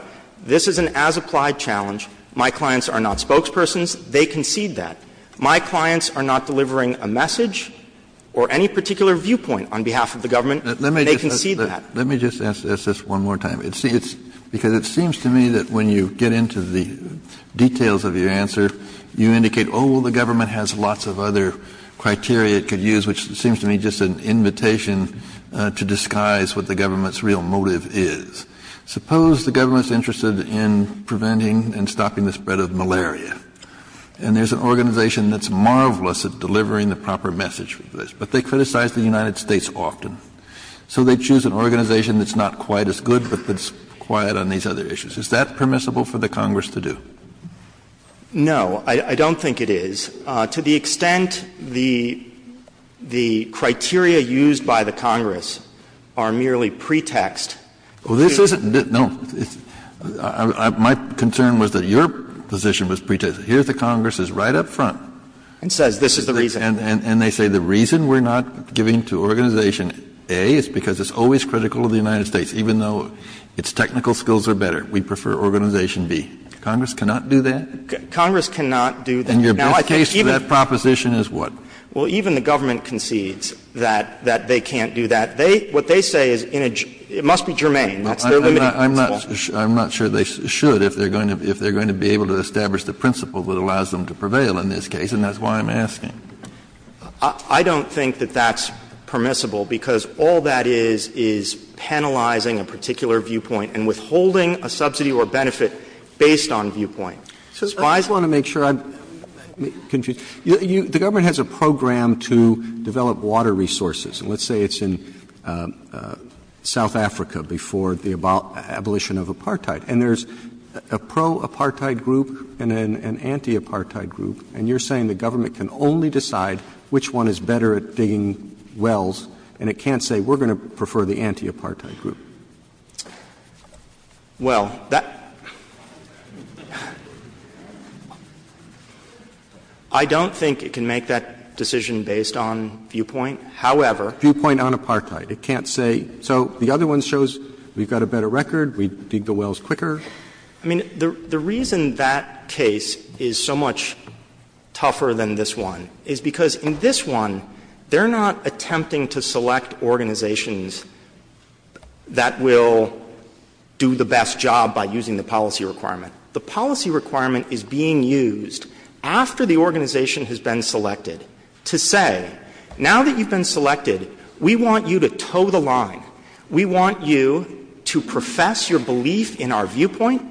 this is an as-applied challenge. My clients are not spokespersons. They concede that. My clients are not delivering a message or any particular viewpoint on behalf of the Government. They concede that. Kennedy, Let me just ask this one more time. Because it seems to me that when you get into the details of your answer, you indicate, oh, well, the Government has lots of other criteria it could use, which seems to me just an invitation to disguise what the Government's real motive is. Suppose the Government is interested in preventing and stopping the spread of malaria, and there's an organization that's marvelous at delivering the proper message for this, but they criticize the United States often. So they choose an organization that's not quite as good, but that's quiet on these other issues. Is that permissible for the Congress to do? No, I don't think it is. To the extent the criteria used by the Congress are merely pretexts to do that, I don't think it is. Kennedy, no, my concern was that your position was pretext. Here's the Congress's right up front. And says this is the reason. And they say the reason we're not giving to Organization A is because it's always critical to the United States, even though its technical skills are better. We prefer Organization B. Congress cannot do that? Congress cannot do that. And your best case for that proposition is what? Well, even the Government concedes that they can't do that. What they say is in a – it must be germane. That's their limiting principle. I'm not sure they should, if they're going to be able to establish the principle that allows them to prevail in this case, and that's why I'm asking. I don't think that that's permissible, because all that is, is penalizing a particular viewpoint and withholding a subsidy or benefit based on viewpoint. I just want to make sure I'm confused. The Government has a program to develop water resources. And let's say it's in South Africa before the abolition of apartheid. And there's a pro-apartheid group and an anti-apartheid group, and you're saying the Government can only decide which one is better at digging wells, and it can't say we're going to prefer the anti-apartheid group. Well, that – I don't think it can make that decision based on viewpoint. However – Viewpoint on apartheid. It can't say, so the other one shows we've got a better record, we dig the wells quicker. I mean, the reason that case is so much tougher than this one is because in this one, they're not attempting to select organizations that will do the best job by using the policy requirement. The policy requirement is being used after the organization has been selected to say, now that you've been selected, we want you to toe the line. We want you to profess your belief in our viewpoint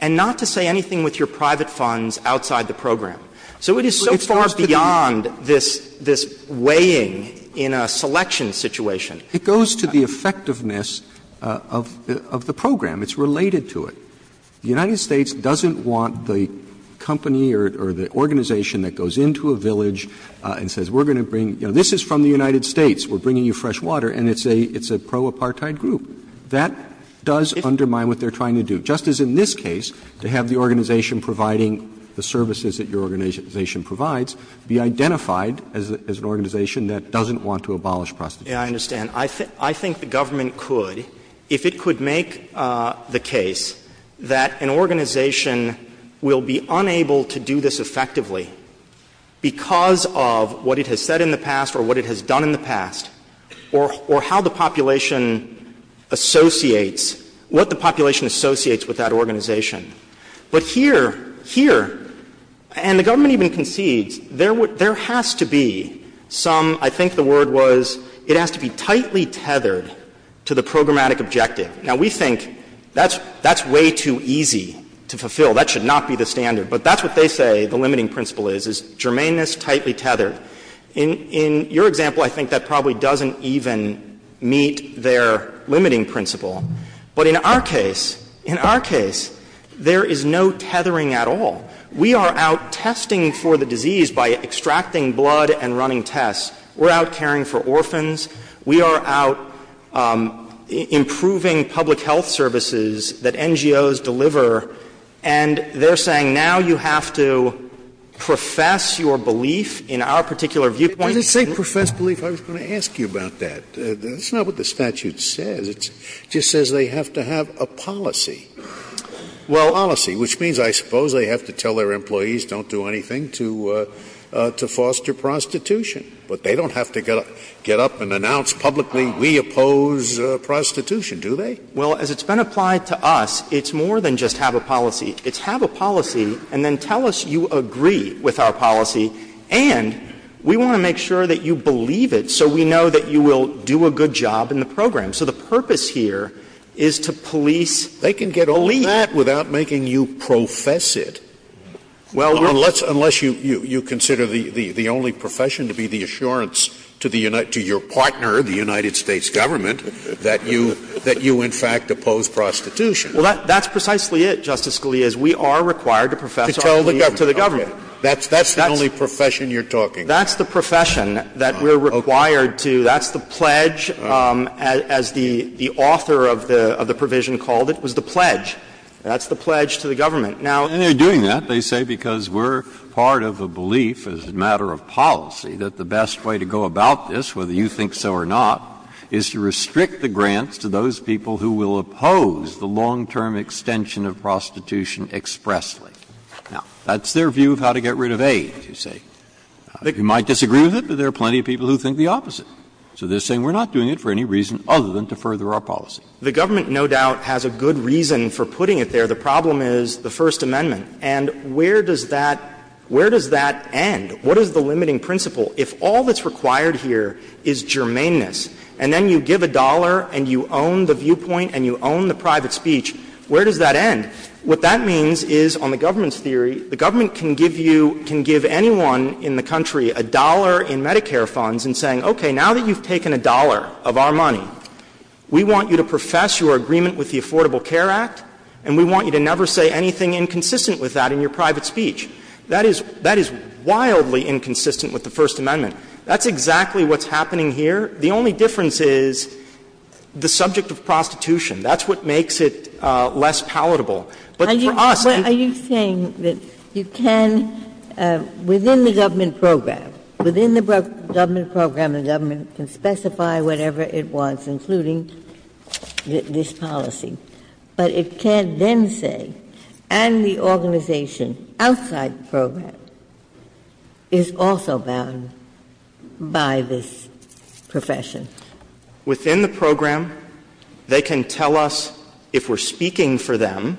and not to say anything with your private funds outside the program. So it is so far beyond this – this weighing in a selection situation. It goes to the effectiveness of the program. It's related to it. The United States doesn't want the company or the organization that goes into a village and says, we're going to bring – you know, this is from the United States. We're bringing you fresh water. And it's a pro-apartheid group. That does undermine what they're trying to do. Just as in this case, to have the organization providing the services that your organization provides be identified as an organization that doesn't want to abolish prostitution. Yeah, I understand. I think the government could, if it could make the case that an organization will be unable to do this effectively because of what it has said in the past or what it has done in the past or how the population associates – what the population associates with that organization. But here – here, and the government even concedes, there has to be some – I think the word was it has to be tightly tethered to the programmatic objective. Now, we think that's – that's way too easy to fulfill. That should not be the standard. But that's what they say the limiting principle is, is germaneness tightly tethered. In – in your example, I think that probably doesn't even meet their limiting principle. But in our case – in our case, there is no tethering at all. We are out testing for the disease by extracting blood and running tests. We're out caring for orphans. We are out improving public health services that NGOs deliver. And they're saying now you have to profess your belief in our particular viewpoint. Scalia. Does it say profess belief? I was going to ask you about that. That's not what the statute says. It just says they have to have a policy. Policy, which means I suppose they have to tell their employees don't do anything to foster prostitution. But they don't have to get up and announce publicly we oppose prostitution, do they? Well, as it's been applied to us, it's more than just have a policy. It's have a policy and then tell us you agree with our policy. And we want to make sure that you believe it so we know that you will do a good job in the program. So the purpose here is to police belief. They can get all that without making you profess it. Well, we're not going to do that. Unless you consider the only profession to be the assurance to the United to your partner, the United States government, that you in fact oppose prostitution. Well, that's precisely it, Justice Scalia, is we are required to profess our belief to the government. That's the only profession you're talking about. That's the profession that we're required to. That's the pledge, as the author of the provision called it, was the pledge. That's the pledge to the government. And they're doing that, they say, because we're part of a belief as a matter of policy that the best way to go about this, whether you think so or not, is to restrict the grants to those people who will oppose the long-term extension of prostitution expressly. Now, that's their view of how to get rid of AIDS, you say. You might disagree with it, but there are plenty of people who think the opposite. So they're saying we're not doing it for any reason other than to further our policy. The government, no doubt, has a good reason for putting it there. The problem is the First Amendment. And where does that end? What is the limiting principle? If all that's required here is germaneness, and then you give a dollar and you own the viewpoint and you own the private speech, where does that end? What that means is, on the government's theory, the government can give you, can give anyone in the country a dollar in Medicare funds in saying, okay, now that you've taken a dollar of our money, we want you to profess your agreement with the Affordable Care Act, and we want you to never say anything inconsistent with that in your private speech. That is, that is wildly inconsistent with the First Amendment. That's exactly what's happening here. The only difference is the subject of prostitution. That's what makes it less palatable. But for us, if you can't do that, you can't do that, you can't do that, you can't But it can't then say, and the organization outside the program is also bound by this profession. Within the program, they can tell us, if we're speaking for them,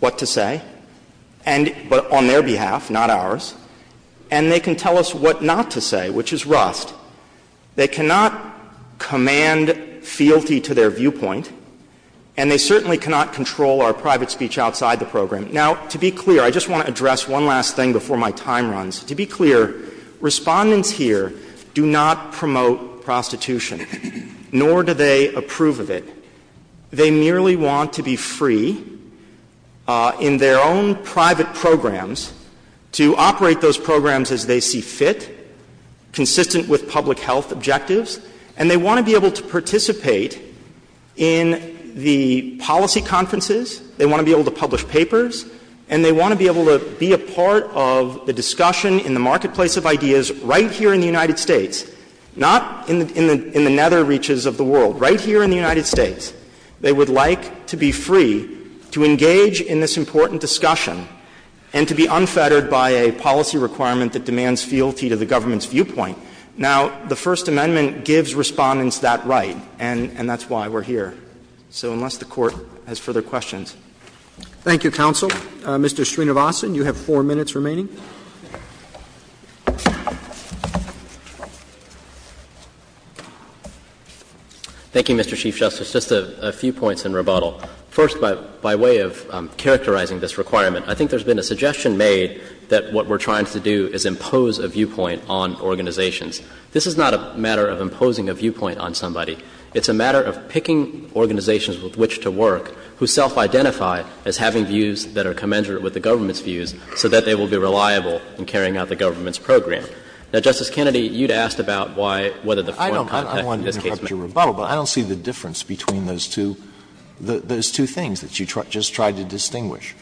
what to say, and on their behalf, not ours, and they can tell us what not to say, which is rust. They cannot command fealty to their viewpoint, and they certainly cannot control our private speech outside the program. Now, to be clear, I just want to address one last thing before my time runs. To be clear, Respondents here do not promote prostitution, nor do they approve of it. They merely want to be free in their own private programs to operate those programs as they see fit, consistent with public health objectives. And they want to be able to participate in the policy conferences. They want to be able to publish papers. And they want to be able to be a part of the discussion in the marketplace of ideas right here in the United States, not in the nether reaches of the world. Right here in the United States, they would like to be free to engage in this important discussion and to be unfettered by a policy requirement that demands fealty to the government's viewpoint. Now, the First Amendment gives Respondents that right, and that's why we're here. So unless the Court has further questions. Roberts. Thank you, counsel. Mr. Srinivasan, you have four minutes remaining. Thank you, Mr. Chief Justice. Just a few points in rebuttal. First, by way of characterizing this requirement, I think there's been a suggestion made that what we're trying to do is impose a viewpoint on organizations. This is not a matter of imposing a viewpoint on somebody. It's a matter of picking organizations with which to work who self-identify as having views that are commensurate with the government's views so that they will be reliable in carrying out the government's program. Now, Justice Kennedy, you'd asked about why, whether the point of contact in this case matters. I don't see the difference between those two things that you just tried to distinguish.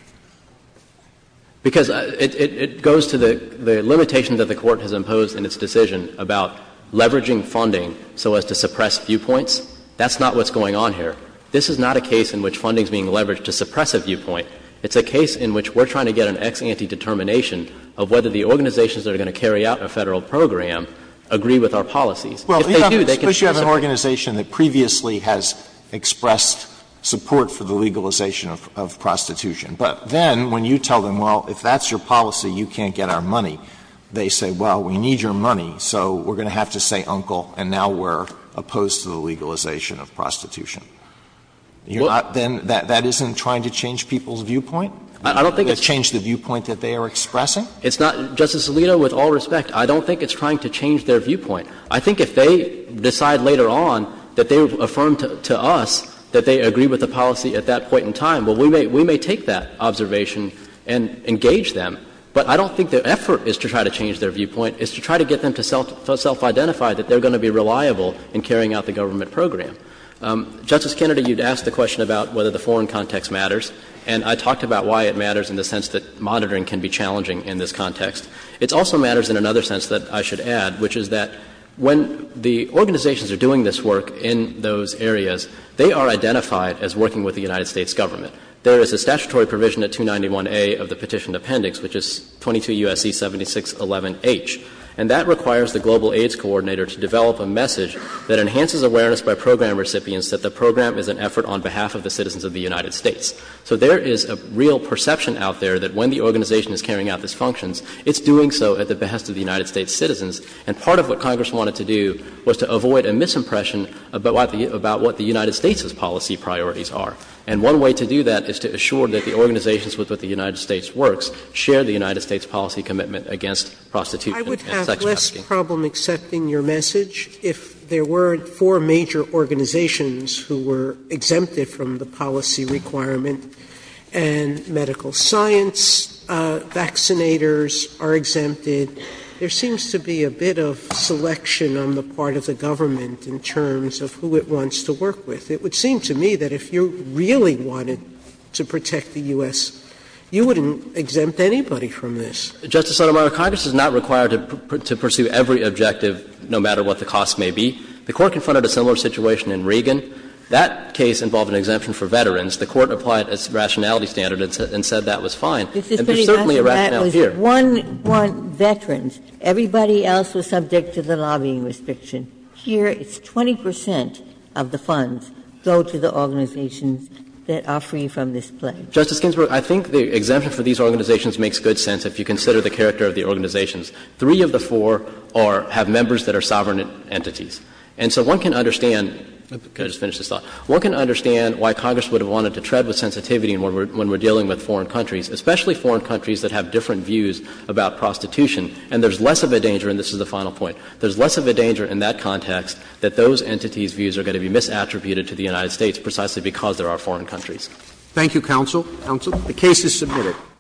Because it goes to the limitation that the Court has imposed in its decision about leveraging funding so as to suppress viewpoints. That's not what's going on here. This is not a case in which funding is being leveraged to suppress a viewpoint. It's a case in which we're trying to get an ex ante determination of whether the organizations that are going to carry out a Federal program agree with our policies. If they do, they can suppress a viewpoint. Alito, especially if you have an organization that previously has expressed support for the legalization of prostitution. But then when you tell them, well, if that's your policy, you can't get our money, they say, well, we need your money, so we're going to have to say, uncle, and now we're opposed to the legalization of prostitution. You're not then – that isn't trying to change people's viewpoint? I don't think it's trying to change the viewpoint that they are expressing. It's not – Justice Alito, with all respect, I don't think it's trying to change their viewpoint. I think if they decide later on that they affirm to us that they agree with the policy at that point in time, well, we may take that observation and engage them. But I don't think the effort is to try to change their viewpoint. It's to try to get them to self-identify that they're going to be reliable in carrying out the government program. Justice Kennedy, you'd asked the question about whether the foreign context matters, and I talked about why it matters in the sense that monitoring can be challenging in this context. It also matters in another sense that I should add, which is that when the organizations are doing this work in those areas, they are identified as working with the United States Government. There is a statutory provision at 291A of the Petition Appendix, which is 22 U.S.C. 7611H, and that requires the Global AIDS Coordinator to develop a message that enhances awareness by program recipients that the program is an effort on behalf of the citizens of the United States. So there is a real perception out there that when the organization is carrying out these functions, it's doing so at the behest of the United States citizens. And part of what Congress wanted to do was to avoid a misimpression about what the United States' policy priorities are. And one way to do that is to assure that the organizations with which the United States works share the United States policy commitment against prostitution and sex trafficking. Sotomayor, I would have less problem accepting your message if there weren't four major organizations who were exempted from the policy requirement and medical science, and the United States vaccinators are exempted. There seems to be a bit of selection on the part of the government in terms of who it wants to work with. It would seem to me that if you really wanted to protect the U.S., you wouldn't exempt anybody from this. Justice Sotomayor, Congress is not required to pursue every objective, no matter what the cost may be. The Court confronted a similar situation in Regan. That case involved an exemption for veterans. The Court applied a rationality standard and said that was fine. And there's certainly a rationality here. Ginsburg-Ginsburg, that was one veteran. Everybody else was subject to the lobbying restriction. Here, it's 20 percent of the funds go to the organizations that are free from this plague. Justice Ginsburg, I think the exemption for these organizations makes good sense if you consider the character of the organizations. Three of the four are — have members that are sovereign entities. And so one can understand — can I just finish this thought? One can understand why Congress would have wanted to tread with sensitivity when we're dealing with foreign countries, especially foreign countries that have different views about prostitution. And there's less of a danger — and this is the final point — there's less of a danger in that context that those entities' views are going to be misattributed to the United States precisely because they're our foreign countries. Roberts. Thank you, counsel. Counsel. The case is submitted.